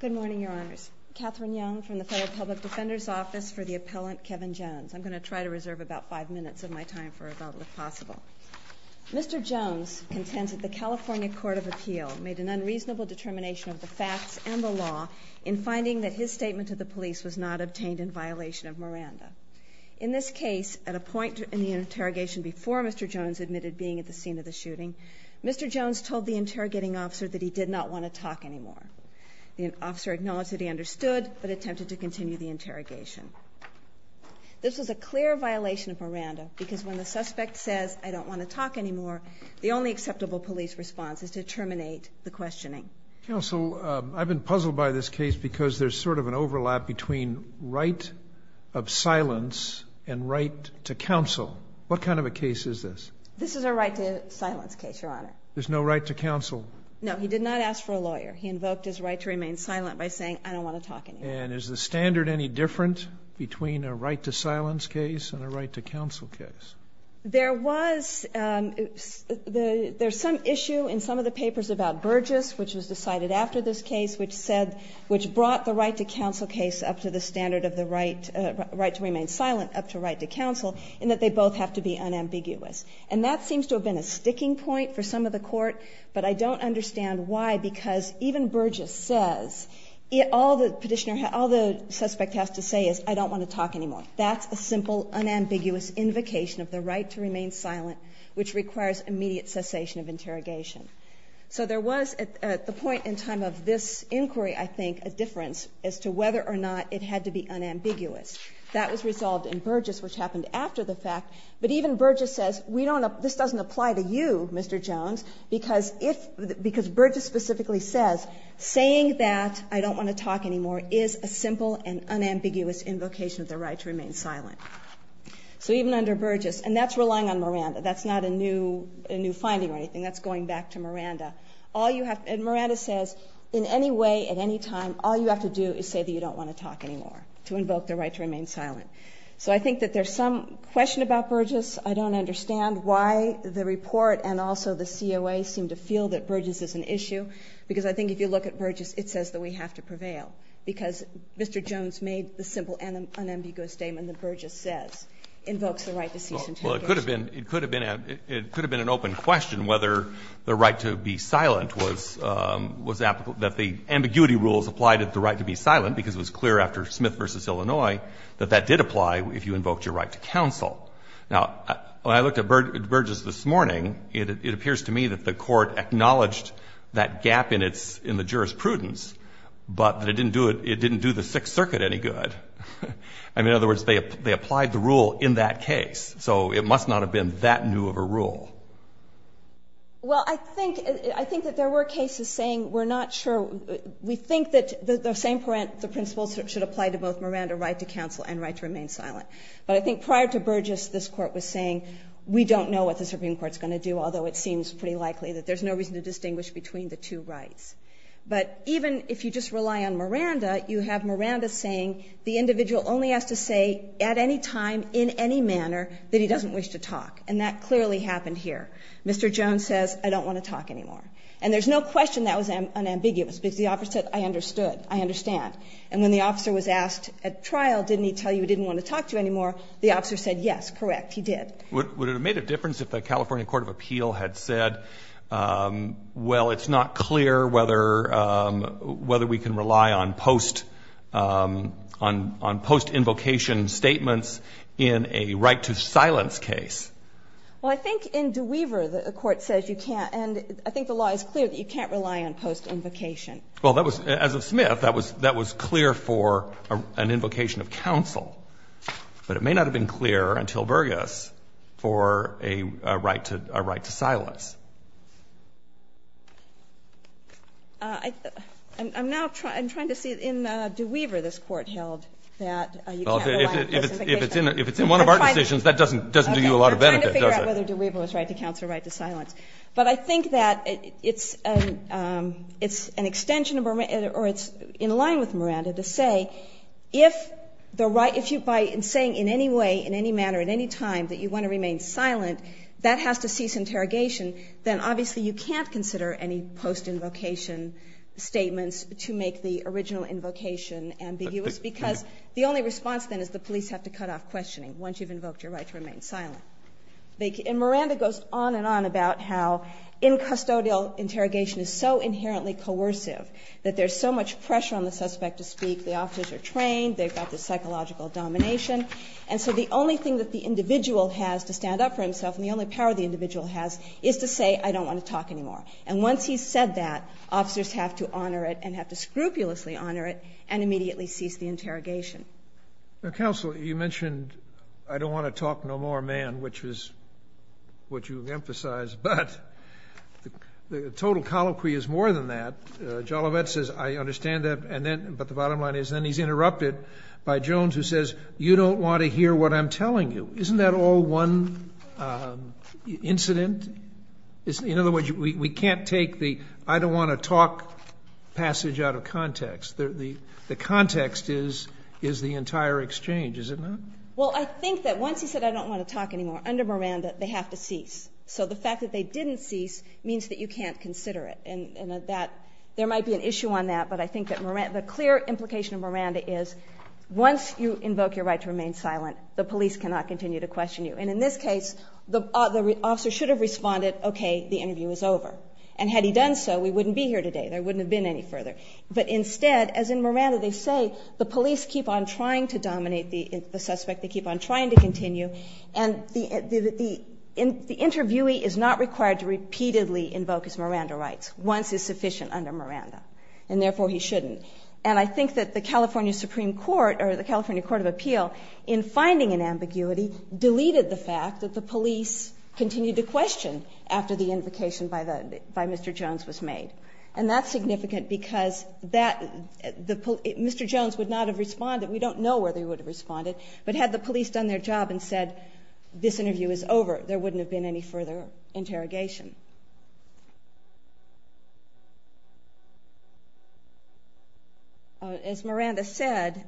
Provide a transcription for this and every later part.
Good morning, Your Honors. Catherine Young from the Federal Public Defender's Office for the Appellant, Kevin Jones. I'm going to try to reserve about five minutes of my time for rebuttal, if possible. Mr. Jones contends that the California Court of Appeal made an unreasonable determination of the facts and the law in finding that his statement to the police was not obtained in violation of Miranda. In this case, at a point in the interrogation before Mr. Jones admitted being at the scene of the shooting, Mr. Jones told the interrogating officer that he did not want to talk anymore. The officer acknowledged that he understood, but attempted to continue the interrogation. This was a clear violation of Miranda, because when the suspect says, I don't want to talk anymore, the only acceptable police response is to terminate the questioning. Counsel, I've been puzzled by this case because there's sort of an overlap between right of silence and right to counsel. What kind of a case is this? This is a right to silence case, Your Honor. There's no right to counsel? No. He did not ask for a lawyer. He invoked his right to remain silent by saying, I don't want to talk anymore. And is the standard any different between a right to silence case and a right to counsel case? There was, um, there's some issue in some of the papers about Burgess, which was decided after this case, which said, which brought the right to counsel case up to the standard of the right, uh, right to remain silent up to right to counsel, and that they both have to be unambiguous. And that seems to have been a sticking point for some of the court, but I don't understand why, because even Burgess says, all the petitioner, all the suspect has to say is, I don't want to talk anymore. That's a simple, unambiguous invocation of the right to remain silent, which requires immediate cessation of interrogation. So there was, at the point in time of this inquiry, I think, a difference as to whether or not it had to be unambiguous. That was resolved in Burgess, which happened after the fact. But even Burgess says, we don't, this doesn't apply to you, Mr. Jones, because if, because Burgess specifically says, saying that I don't want to talk anymore is a simple and unambiguous invocation of the right to remain silent. So even under Burgess, and that's relying on Miranda. That's not a new, a new finding or anything. That's going back to Miranda. All you have, and Miranda says, in any way, at any time, all you have to do is say that you don't want to talk anymore, to invoke the right to remain silent. So I think that there's some question about Burgess. I don't understand why the report and also the COA seem to feel that Burgess is an issue. Because I think if you look at Burgess, it says that we have to prevail. Because Mr. Jones made the simple and unambiguous statement that Burgess says invokes the right to cease interrogation. Well, it could have been, it could have been, it could have been an open question whether the right to be silent was, was applicable, that the ambiguity rules applied at the right to be silent. Because it was clear after Smith v. Illinois that that did apply if you invoked your right to counsel. Now, when I looked at Burgess this morning, it appears to me that the Court acknowledged that gap in its, in the jurisprudence, but that it didn't do it, it didn't do the Sixth Circuit any good. I mean, in other words, they, they applied the rule in that case. So it must not have been that new of a rule. Well, I think, I think that there were cases saying we're not sure, we think that the same principles should apply to both Miranda right to counsel and right to remain silent. But I think prior to Burgess, this Court was saying we don't know what the Supreme Court's going to do, although it seems pretty likely that there's no reason to distinguish between the two rights. But even if you just rely on Miranda, you have Miranda saying the individual only has to say at any time, in any manner, that he doesn't wish to talk. And that clearly happened here. Mr. Jones says, I don't want to talk anymore. And there's no question that was unambiguous, because the opposite, I understood. And when the officer was asked at trial, didn't he tell you he didn't want to talk to you anymore, the officer said, yes, correct, he did. Would it have made a difference if the California Court of Appeal had said, well, it's not clear whether, whether we can rely on post, on, on post-invocation statements in a right to silence case? Well, I think in DeWeaver, the Court says you can't, and I think the law is clear that you can't rely on post-invocation. Well, that was, as of Smith, that was, that was clear for an invocation of counsel. But it may not have been clear until Burgess for a right to, a right to silence. I, I'm now trying, I'm trying to see, in DeWeaver, this Court held that you can't rely on post-invocation. If it's in, if it's in one of our decisions, that doesn't, doesn't do you a lot of benefit, does it? Okay. We're trying to figure out whether DeWeaver was right to counsel or right to silence. But I think that it's an, it's an extension of, or it's in line with Miranda to say, if the right, if you, by saying in any way, in any manner, at any time that you want to remain silent, that has to cease interrogation, then obviously you can't consider any post-invocation statements to make the original invocation ambiguous. Because the only response then is the police have to cut off questioning once you've invoked your right to remain silent. And Miranda goes on and on about how incustodial interrogation is so inherently coercive, that there's so much pressure on the suspect to speak. The officers are trained, they've got the psychological domination. And so the only thing that the individual has to stand up for himself, and the only power the individual has, is to say, I don't want to talk anymore. And once he's said that, officers have to honor it, and have to scrupulously honor it, and immediately cease the interrogation. Counsel, you mentioned, I don't want to talk no more, man, which is what you emphasized, but the total colloquy is more than that. Jollivet says, I understand that, and then, but the bottom line is, then he's interrupted by Jones, who says, you don't want to hear what I'm telling you. Isn't that all one incident? In other words, we can't take the I don't want to talk passage out of context. The context is the entire exchange, is it not? Well, I think that once he said, I don't want to talk anymore, under Miranda, they have to cease. So the fact that they didn't cease means that you can't consider it. And that there might be an issue on that, but I think that the clear implication of Miranda is, once you invoke your right to remain silent, the police cannot continue to question you. And in this case, the officer should have responded, okay, the interview is over. And had he done so, we wouldn't be here today. There wouldn't have been any further. But instead, as in Miranda, they say, the police keep on trying to dominate the suspect. They keep on trying to continue. And the interviewee is not required to repeatedly invoke his Miranda rights, once it's sufficient under Miranda, and therefore, he shouldn't. And I think that the California Supreme Court, or the California Court of Appeal, in finding an ambiguity, deleted the fact that the police continued to question after the invocation by Mr. Jones was made. And that's significant because that, the, Mr. Jones would not have responded. We don't know where they would have responded. But had the police done their job and said, this interview is over, there wouldn't have been any further interrogation. As Miranda said,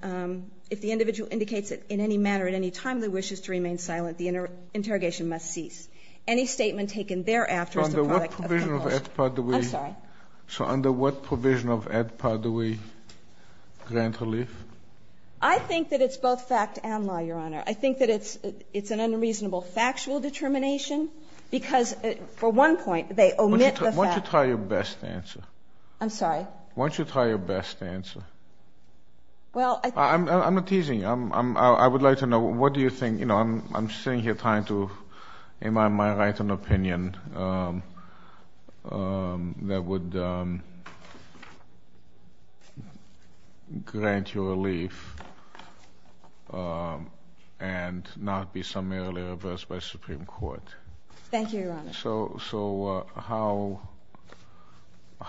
if the individual indicates it in any manner, at any time they wishes to remain silent, the interrogation must cease. Any statement taken thereafter is the product of compulsion. I'm sorry. So under what provision of ADPA do we grant relief? I think that it's both fact and law, Your Honor. I think that it's an unreasonable factual determination, because for one point, they omit the fact. Why don't you try your best to answer? I'm sorry? Why don't you try your best to answer? Well, I think- I'm not teasing you. I would like to know, what do you think? You know, I'm sitting here trying to, am I right on opinion? That would grant you relief, and not be summarily reversed by the Supreme Court. Thank you, Your Honor. So how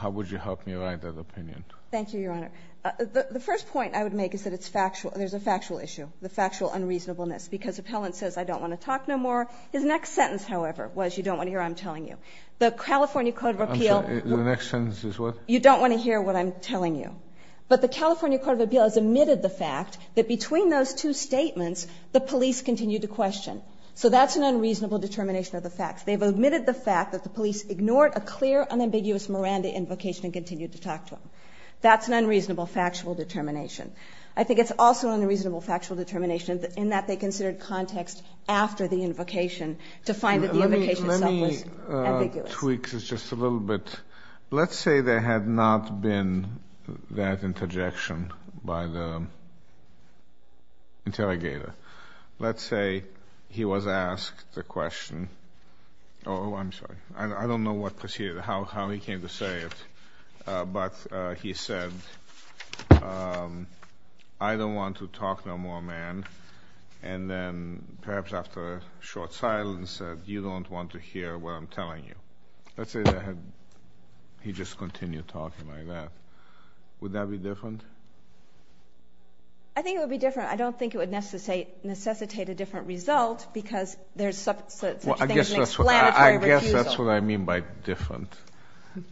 would you help me write that opinion? Thank you, Your Honor. The first point I would make is that it's factual. There's a factual issue, the factual unreasonableness. Because appellant says, I don't want to talk no more. His next sentence, however, was you don't want to hear what I'm telling you. The California Code of Appeal- I'm sorry. The next sentence is what? You don't want to hear what I'm telling you. But the California Code of Appeal has omitted the fact that between those two statements, the police continued to question. So that's an unreasonable determination of the facts. They've omitted the fact that the police ignored a clear, unambiguous Miranda invocation and continued to talk to him. That's an unreasonable factual determination. I think it's also an unreasonable factual determination in that they considered the context after the invocation to find that the invocation itself was ambiguous. Let me tweak this just a little bit. Let's say there had not been that interjection by the interrogator. Let's say he was asked the question, oh, I'm sorry. I don't know what proceeded, how he came to say it. But he said, I don't want to talk no more, man. And then perhaps after a short silence, he said, you don't want to hear what I'm telling you. Let's say that he just continued talking like that. Would that be different? I think it would be different. I don't think it would necessitate a different result because there's such a thing as an explanatory refusal. I guess that's what I mean by different.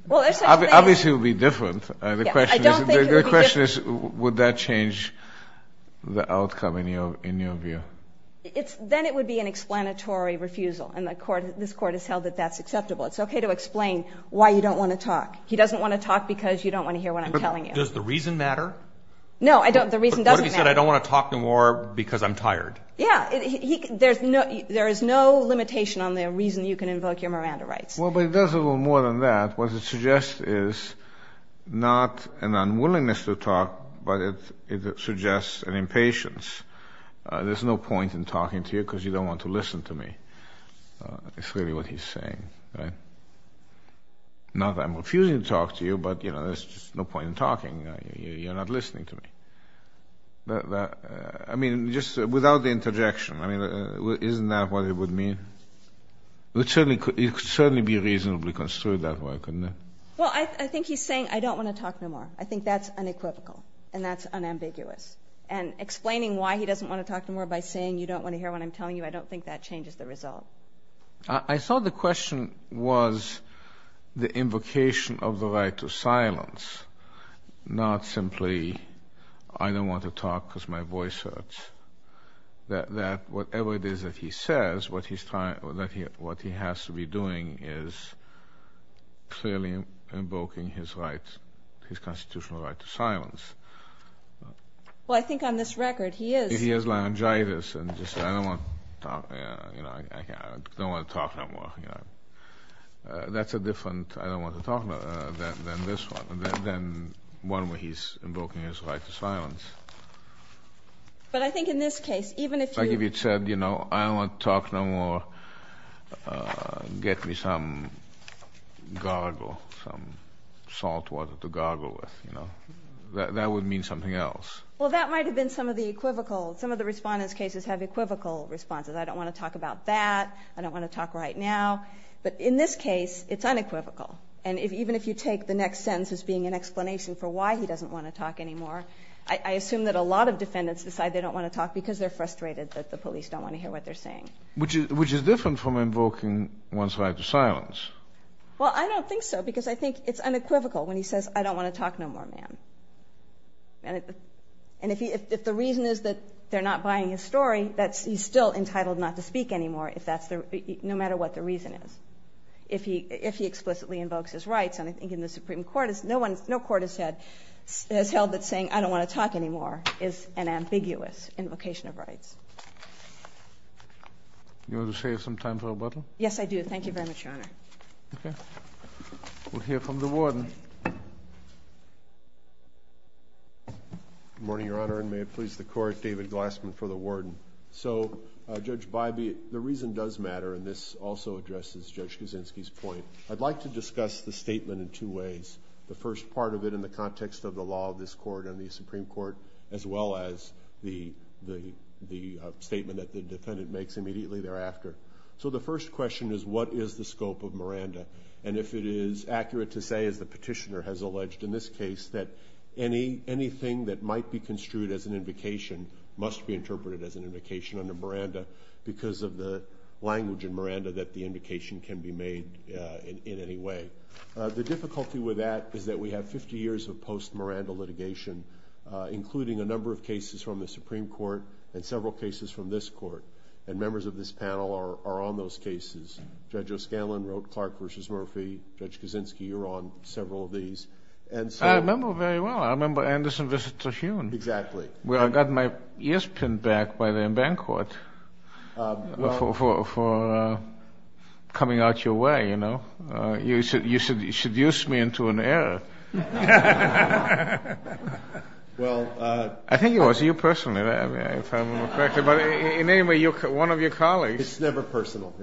Obviously, it would be different. The question is, would that change the outcome in your view? Then it would be an explanatory refusal, and this Court has held that that's acceptable. It's okay to explain why you don't want to talk. He doesn't want to talk because you don't want to hear what I'm telling you. Does the reason matter? No, the reason doesn't matter. What if he said, I don't want to talk no more because I'm tired? Yeah. There is no limitation on the reason you can invoke your Miranda rights. Well, but it does a little more than that. What it suggests is not an unwillingness to talk, but it suggests an impatience. There's no point in talking to you because you don't want to listen to me. It's really what he's saying. Not that I'm refusing to talk to you, but there's just no point in talking. You're not listening to me. I mean, just without the interjection, isn't that what it would mean? It could certainly be reasonably construed that way, couldn't it? Well, I think he's saying, I don't want to talk no more. I think that's unequivocal, and that's unambiguous. And explaining why he doesn't want to talk no more by saying, you don't want to hear what I'm telling you, I don't think that changes the result. I thought the question was the invocation of the right to silence, not simply I don't want to talk because my voice hurts. That whatever it is that he says, what he has to be doing is clearly invoking his constitutional right to silence. Well, I think on this record he is. He has laryngitis and just says, I don't want to talk. I don't want to talk no more. That's a different I don't want to talk than this one, than one where he's invoking his right to silence. But I think in this case, even if you Like if he said, you know, I don't want to talk no more. Get me some gargle, some salt water to gargle with, you know. That would mean something else. Well, that might have been some of the equivocal. Some of the Respondent's cases have equivocal responses. I don't want to talk about that. I don't want to talk right now. But in this case, it's unequivocal. And even if you take the next sentence as being an explanation for why he doesn't want to talk anymore, I assume that a lot of defendants decide they don't want to talk because they're frustrated that the police don't want to hear what they're saying. Which is different from invoking one's right to silence. Well, I don't think so because I think it's unequivocal when he says, I don't want to talk no more, ma'am. And if the reason is that they're not buying his story, he's still entitled not to speak anymore no matter what the reason is. If he explicitly invokes his rights. And I think in the Supreme Court, no court has held that saying, I don't want to talk anymore is an ambiguous invocation of rights. You want to save some time for rebuttal? Yes, I do. Thank you very much, Your Honor. Okay. We'll hear from the Warden. Good morning, Your Honor, and may it please the Court, David Glassman for the Warden. So, Judge Bybee, the reason does matter, and this also addresses Judge Kaczynski's point. I'd like to discuss the statement in two ways. The first part of it in the context of the law of this Court and the Supreme Court, as well as the statement that the defendant makes immediately thereafter. So the first question is, what is the scope of Miranda? And if it is accurate to say, as the petitioner has alleged in this case, that anything that might be construed as an invocation must be interpreted as an invocation under Miranda because of the language in Miranda that the invocation can be made in any way. The difficulty with that is that we have 50 years of post-Miranda litigation, including a number of cases from the Supreme Court and several cases from this Court, and members of this panel are on those cases. Judge O'Scanlan wrote Clark v. Murphy. Judge Kaczynski, you're on several of these. I remember very well. I remember Anderson v. Trujillo. Exactly. Well, I got my ears pinned back by them in Bancorp for coming out your way, you know. You seduced me into an error. Well, I think it was you personally. If I remember correctly. But in any way, one of your colleagues. It's never personal.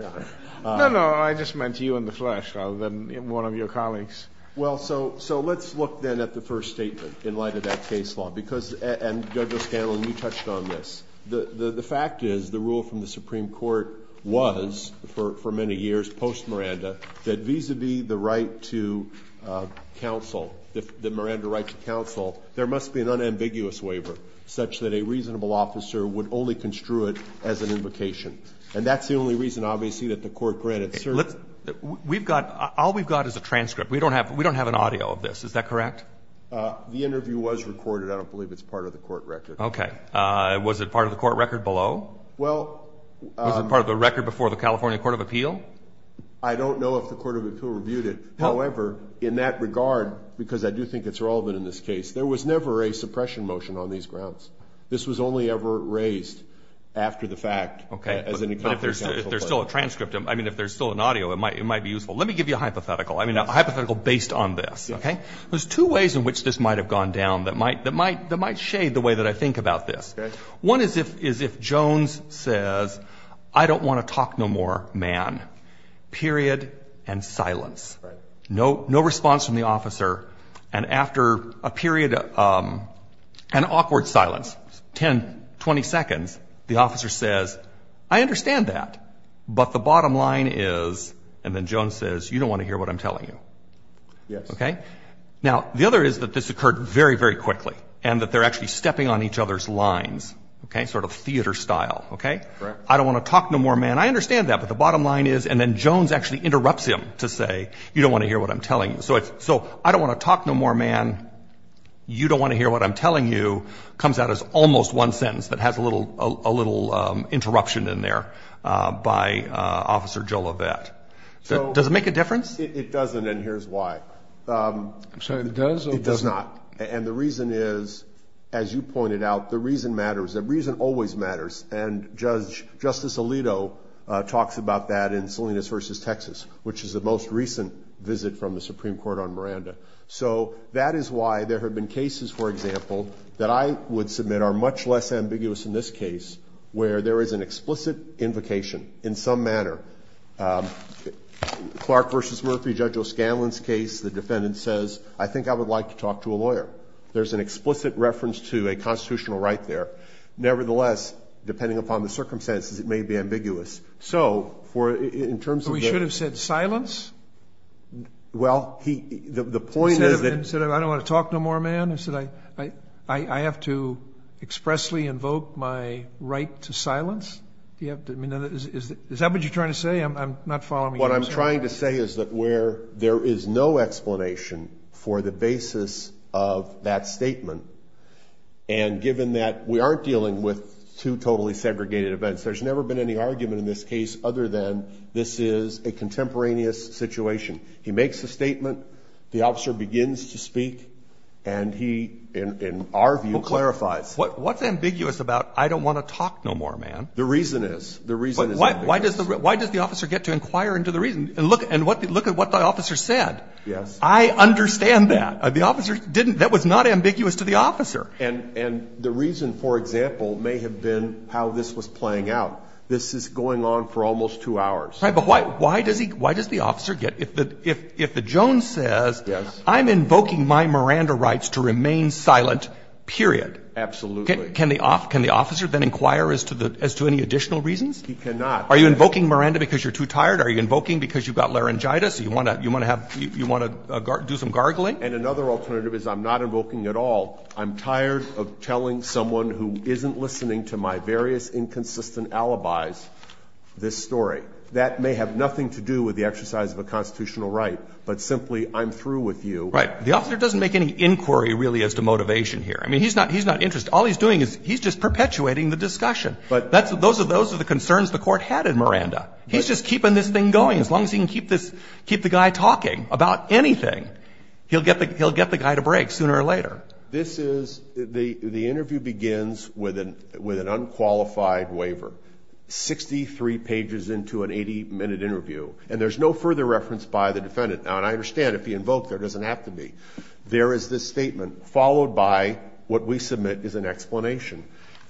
No, no. I just meant you in the flesh rather than one of your colleagues. Well, so let's look then at the first statement in light of that case law. And Judge O'Scanlan, you touched on this. The fact is the rule from the Supreme Court was, for many years post-Miranda, that vis-a-vis the right to counsel, the Miranda right to counsel, there must be an unambiguous waiver such that a reasonable officer would only construe it as an invocation. And that's the only reason, obviously, that the Court granted certain. We've got – all we've got is a transcript. We don't have an audio of this. Is that correct? The interview was recorded. I don't believe it's part of the court record. Okay. Was it part of the court record below? Well – Was it part of the record before the California Court of Appeal? I don't know if the Court of Appeal reviewed it. However, in that regard, because I do think it's relevant in this case, there was never a suppression motion on these grounds. This was only ever raised after the fact as an – Okay. But if there's still a transcript, I mean, if there's still an audio, it might be useful. Let me give you a hypothetical. I mean, a hypothetical based on this, okay? There's two ways in which this might have gone down that might shade the way that I think about this. One is if Jones says, I don't want to talk no more, man, period, and silence. No response from the officer. And after a period of an awkward silence, 10, 20 seconds, the officer says, I understand that. But the bottom line is – and then Jones says, you don't want to hear what I'm telling you. Yes. Okay? Now, the other is that this occurred very, very quickly, and that they're actually stepping on each other's lines, okay, sort of theater style, okay? Correct. I don't want to talk no more, man. I understand that. But the bottom line is – and then Jones actually interrupts him to say, you don't want to hear what I'm telling you. So I don't want to talk no more, man. You don't want to hear what I'm telling you comes out as almost one sentence that has a little interruption in there by Officer Joe Lovett. Does it make a difference? It doesn't, and here's why. I'm sorry, it does? It does not. And the reason is, as you pointed out, the reason matters. The reason always matters. And Justice Alito talks about that in Salinas v. Texas, which is the most recent visit from the Supreme Court on Miranda. So that is why there have been cases, for example, that I would submit are much less ambiguous in this case, where there is an explicit invocation in some manner. Clark v. Murphy, Judge O'Scanlan's case, the defendant says, I think I would like to talk to a lawyer. There's an explicit reference to a constitutional right there. Nevertheless, depending upon the circumstances, it may be ambiguous. So in terms of the – But we should have said silence? Well, the point is that – Instead of, I don't want to talk no more, man, instead I have to expressly invoke my right to silence? Is that what you're trying to say? I'm not following you, sir. What I'm trying to say is that where there is no explanation for the basis of that statement, and given that we aren't dealing with two totally segregated events, there's never been any argument in this case other than this is a contemporaneous situation. He makes a statement, the officer begins to speak, and he, in our view, clarifies. What's ambiguous about I don't want to talk no more, man? The reason is. The reason is ambiguous. Why does the officer get to inquire into the reason? And look at what the officer said. Yes. I understand that. The officer didn't – that was not ambiguous to the officer. And the reason, for example, may have been how this was playing out. This is going on for almost two hours. Right. But why does the officer get – if the Jones says I'm invoking my Miranda rights to remain silent, period. Absolutely. Can the officer then inquire as to any additional reasons? He cannot. Are you invoking Miranda because you're too tired? Are you invoking because you've got laryngitis? You want to have – you want to do some gargling? And another alternative is I'm not invoking at all. I'm tired of telling someone who isn't listening to my various inconsistent alibis this story. That may have nothing to do with the exercise of a constitutional right, but simply I'm through with you. Right. The officer doesn't make any inquiry really as to motivation here. I mean, he's not – he's not interested. All he's doing is he's just perpetuating the discussion. But – Those are the concerns the Court had in Miranda. He's just keeping this thing going. As long as he can keep this – keep the guy talking about anything, he'll get the guy to break sooner or later. This is – the interview begins with an unqualified waiver, 63 pages into an 80-minute interview. And there's no further reference by the defendant. Now, and I understand if he invoked, there doesn't have to be. There is this statement followed by what we submit is an explanation.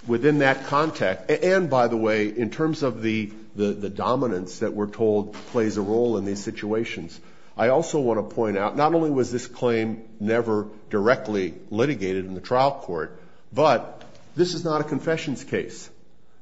Within that context – and by the way, in terms of the dominance that we're told plays a role in these situations, I also want to point out not only was this claim never directly litigated in the trial court, but this is not a confessions case.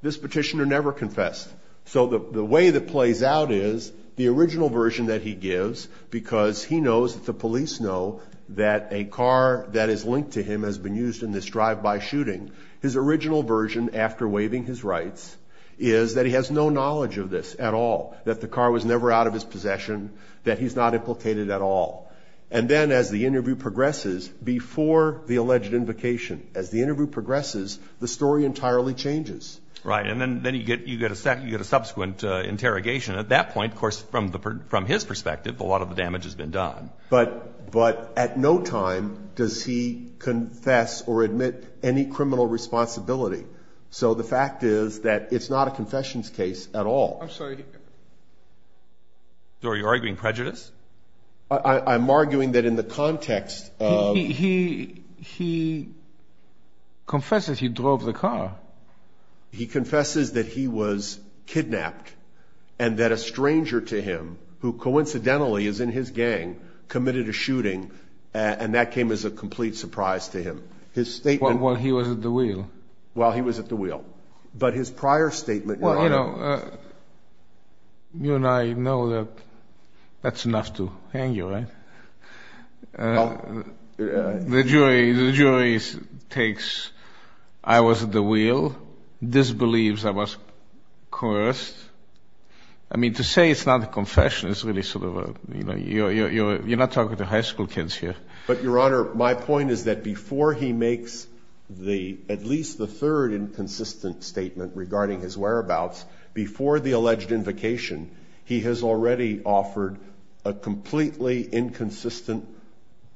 This petitioner never confessed. So the way that plays out is the original version that he gives, because he knows that the police know that a car that is linked to him has been used in this drive-by shooting. His original version, after waiving his rights, is that he has no knowledge of this at all, that the car was never out of his possession, that he's not implicated at all. And then as the interview progresses, before the alleged invocation, as the interview progresses, the story entirely changes. Right. And then you get a subsequent interrogation. At that point, of course, from his perspective, a lot of the damage has been done. But at no time does he confess or admit any criminal responsibility. So the fact is that it's not a confessions case at all. I'm sorry. So are you arguing prejudice? I'm arguing that in the context of – He confesses he drove the car. He confesses that he was kidnapped and that a stranger to him, who coincidentally is in his gang, committed a shooting, and that came as a complete surprise to him. His statement – While he was at the wheel. While he was at the wheel. But his prior statement – Well, you know, you and I know that that's enough to hang you, right? The jury takes I was at the wheel, disbelieves I was coerced. I mean, to say it's not a confession is really sort of a – you're not talking to high school kids here. But, Your Honor, my point is that before he makes at least the third inconsistent statement regarding his whereabouts, before the alleged invocation, he has already offered a completely inconsistent,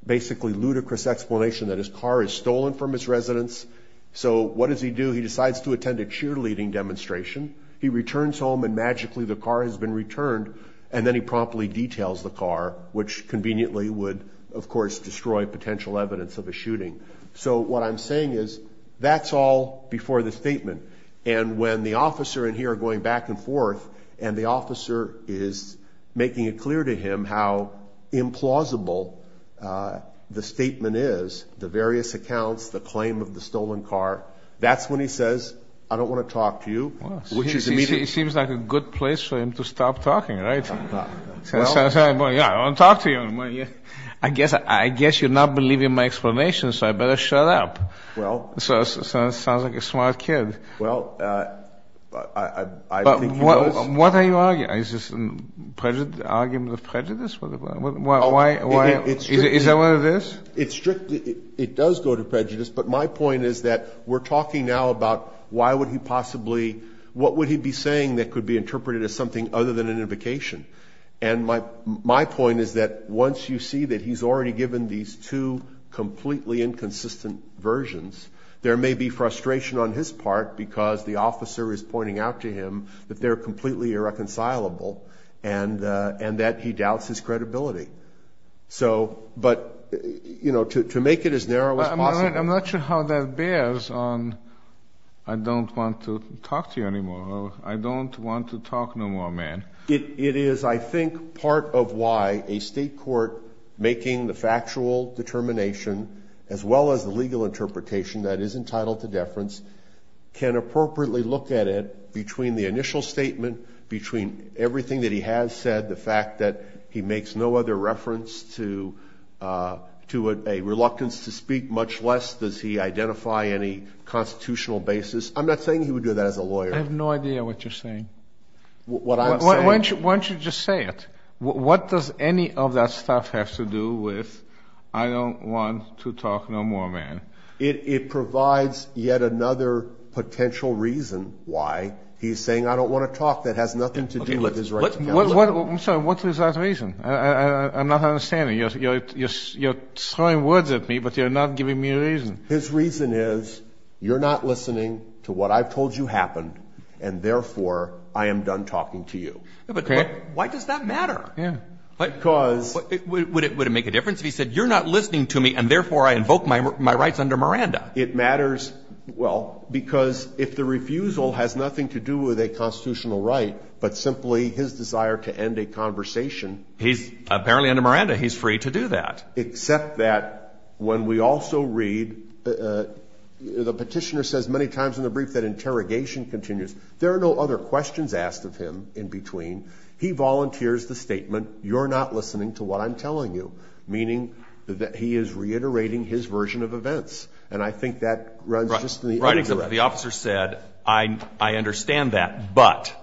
basically ludicrous explanation that his car is stolen from his residence. So what does he do? He decides to attend a cheerleading demonstration. He returns home, and magically the car has been returned, and then he promptly details the car, which conveniently would, of course, destroy potential evidence of a shooting. So what I'm saying is that's all before the statement. And when the officer in here going back and forth, and the officer is making it clear to him how implausible the statement is, the various accounts, the claim of the stolen car, that's when he says, I don't want to talk to you, which is immediately – It seems like a good place for him to stop talking, right? I don't want to talk to you. I guess you're not believing my explanation, so I better shut up. Well – Sounds like a smart kid. Well, I think he does. What are you arguing? Is this an argument of prejudice? Is that what it is? It does go to prejudice, but my point is that we're talking now about why would he possibly – what would he be saying that could be interpreted as something other than an invocation? And my point is that once you see that he's already given these two completely inconsistent versions, there may be frustration on his part because the officer is pointing out to him that they're completely irreconcilable and that he doubts his credibility. So – but, you know, to make it as narrow as possible – I'm not sure how that bears on I don't want to talk to you anymore or I don't want to talk no more, man. It is, I think, part of why a state court making the factual determination, as well as the legal interpretation that is entitled to deference, can appropriately look at it between the initial statement, between everything that he has said, the fact that he makes no other reference to a reluctance to speak, much less does he identify any constitutional basis. I'm not saying he would do that as a lawyer. I have no idea what you're saying. What I'm saying – Why don't you just say it? What does any of that stuff have to do with I don't want to talk no more, man? It provides yet another potential reason why he's saying I don't want to talk that has nothing to do with his right to counsel. I'm sorry. What is that reason? I'm not understanding. You're throwing words at me, but you're not giving me a reason. His reason is you're not listening to what I've told you happened, and therefore I am done talking to you. But why does that matter? Because – Would it make a difference if he said you're not listening to me and therefore I invoke my rights under Miranda? It matters, well, because if the refusal has nothing to do with a constitutional right but simply his desire to end a conversation – He's apparently under Miranda. He's free to do that. Except that when we also read – the petitioner says many times in the brief that interrogation continues. There are no other questions asked of him in between. He volunteers the statement you're not listening to what I'm telling you, meaning that he is reiterating his version of events. And I think that runs just in the – Right, except the officer said I understand that, but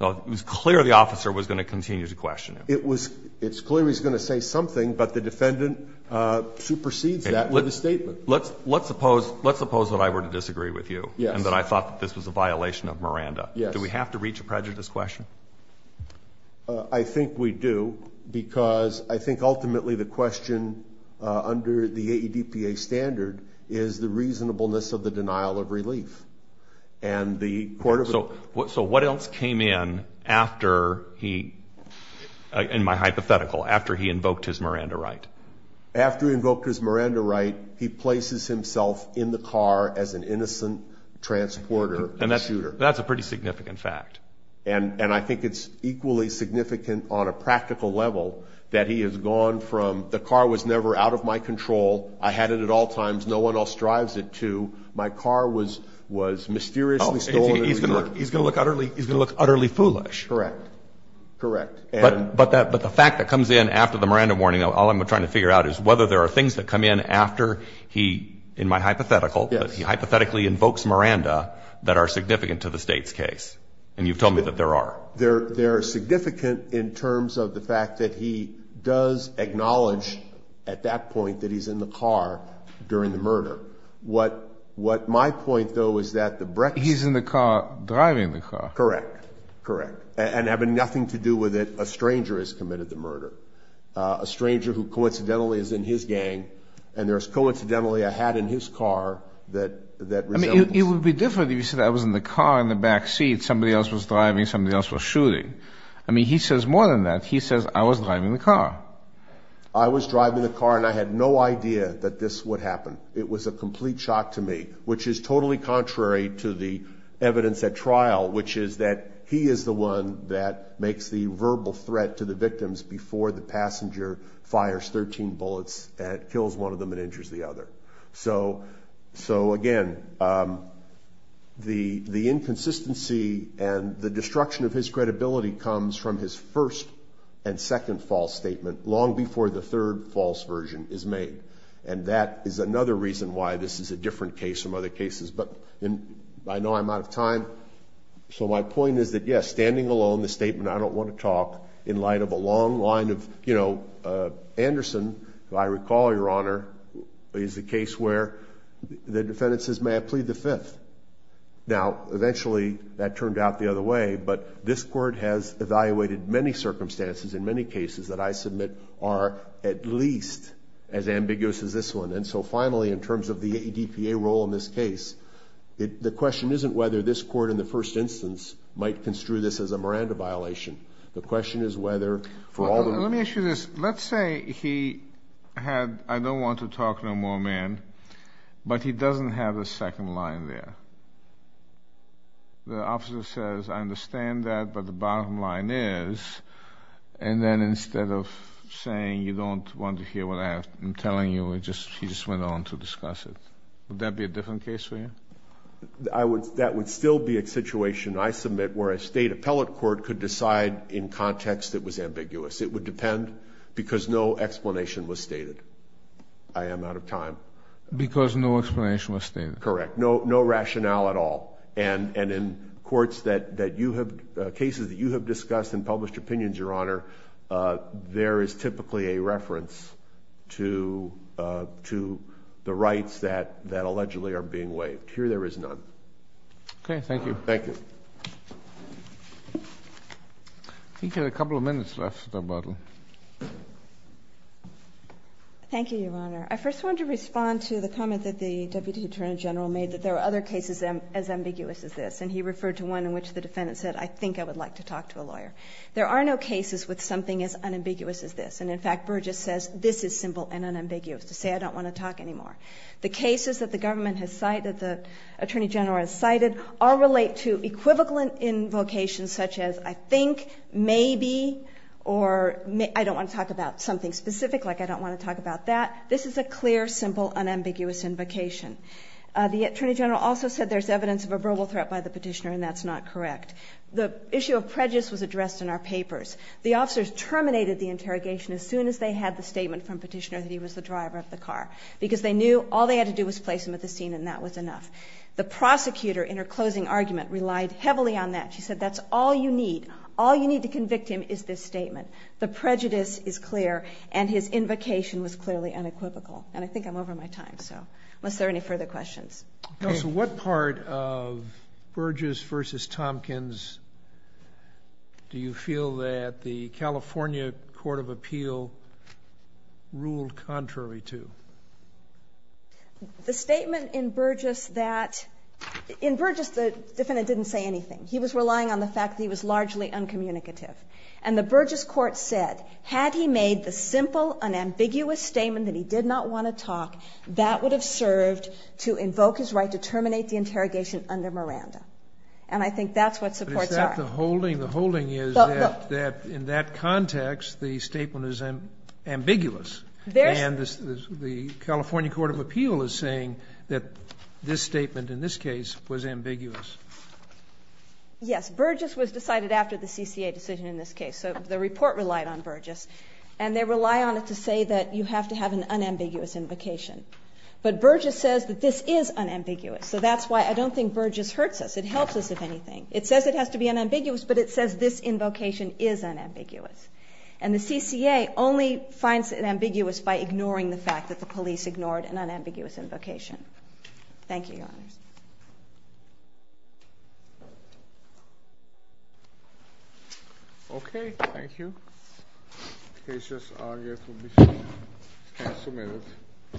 it was clear the officer was going to continue to question him. It's clear he's going to say something, but the defendant supersedes that with a statement. Let's suppose that I were to disagree with you and that I thought that this was a violation of Miranda. Do we have to reach a prejudice question? I think we do, because I think ultimately the question under the AEDPA standard is the reasonableness of the denial of relief. So what else came in after he – in my hypothetical, after he invoked his Miranda right? After he invoked his Miranda right, he places himself in the car as an innocent transporter and shooter. That's a pretty significant fact. And I think it's equally significant on a practical level that he has gone from the car was never out of my control. I had it at all times. No one else drives it to. My car was mysteriously stolen and returned. He's going to look utterly foolish. Correct. Correct. But the fact that comes in after the Miranda warning, all I'm trying to figure out is whether there are things that come in after he, in my hypothetical, that he hypothetically invokes Miranda that are significant to the state's case. And you've told me that there are. They're significant in terms of the fact that he does acknowledge at that point that he's in the car during the murder. What my point, though, is that the breaking – He's in the car driving the car. Correct. Correct. And having nothing to do with it, a stranger has committed the murder. A stranger who coincidentally is in his gang, and there's coincidentally a hat in his car that resembles – I mean, it would be different if you said I was in the car in the backseat. Somebody else was driving. Somebody else was shooting. I mean, he says more than that. He says I was driving the car. I was driving the car, and I had no idea that this would happen. It was a complete shock to me, which is totally contrary to the evidence at trial, which is that he is the one that makes the verbal threat to the victims before the passenger fires 13 bullets and kills one of them and injures the other. So, again, the inconsistency and the destruction of his credibility comes from his first and second false statement, long before the third false version is made. And that is another reason why this is a different case from other cases. But I know I'm out of time, so my point is that, yes, standing alone, the statement, I don't want to talk in light of a long line of – you know, Anderson, who I recall, Your Honor, is the case where the defendant says, may I plead the fifth? Now, eventually that turned out the other way, but this Court has evaluated many circumstances in many cases that I submit are at least as ambiguous as this one. And so, finally, in terms of the ADPA role in this case, the question isn't whether this Court in the first instance might construe this as a Miranda violation. The question is whether for all the – Let me ask you this. Let's say he had, I don't want to talk no more, man, but he doesn't have a second line there. The officer says, I understand that, but the bottom line is, and then instead of saying you don't want to hear what I am telling you, he just went on to discuss it. Would that be a different case for you? That would still be a situation I submit where a State appellate court could decide in context it was ambiguous. It would depend because no explanation was stated. I am out of time. Because no explanation was stated. Correct. No rationale at all. And in courts that you have – cases that you have discussed and published opinions, Your Honor, there is typically a reference to the rights that allegedly are being waived. Here there is none. Okay. Thank you. Thank you. I think we have a couple of minutes left. Thank you, Your Honor. I first wanted to respond to the comment that the Deputy Attorney General made, that there are other cases as ambiguous as this. And he referred to one in which the defendant said, I think I would like to talk to a lawyer. There are no cases with something as unambiguous as this. And, in fact, Burgess says this is simple and unambiguous, to say I don't want to talk any more. The cases that the government has cited, that the Attorney General has cited, all relate to equivocal invocations such as I think, maybe, or I don't want to talk about something specific, like I don't want to talk about that. This is a clear, simple, unambiguous invocation. The Attorney General also said there is evidence of a verbal threat by the petitioner, and that's not correct. The issue of prejudice was addressed in our papers. The officers terminated the interrogation as soon as they had the statement from the petitioner that he was the driver of the car, because they knew all they had to do was place him at the scene, and that was enough. The prosecutor, in her closing argument, relied heavily on that. She said that's all you need. All you need to convict him is this statement. The prejudice is clear, and his invocation was clearly unequivocal. And I think I'm over my time, so unless there are any further questions. Okay. So what part of Burgess v. Tompkins do you feel that the California Court of Appeal ruled contrary to? The statement in Burgess that the defendant didn't say anything. He was relying on the fact that he was largely uncommunicative. And the Burgess court said had he made the simple, unambiguous statement that he did not want to talk, that would have served to invoke his right to terminate the interrogation under Miranda. And I think that's what supports our argument. But is that the holding? The holding is that in that context, the statement is ambiguous. And the California Court of Appeal is saying that this statement in this case was ambiguous. Yes. Burgess was decided after the CCA decision in this case. So the report relied on Burgess. And they rely on it to say that you have to have an unambiguous invocation. But Burgess says that this is unambiguous. So that's why I don't think Burgess hurts us. It helps us, if anything. It says it has to be unambiguous, but it says this invocation is unambiguous. And the CCA only finds it ambiguous by ignoring the fact that the police ignored an unambiguous invocation. Thank you, Your Honors. Okay. Thank you. Cases are yet to be submitted.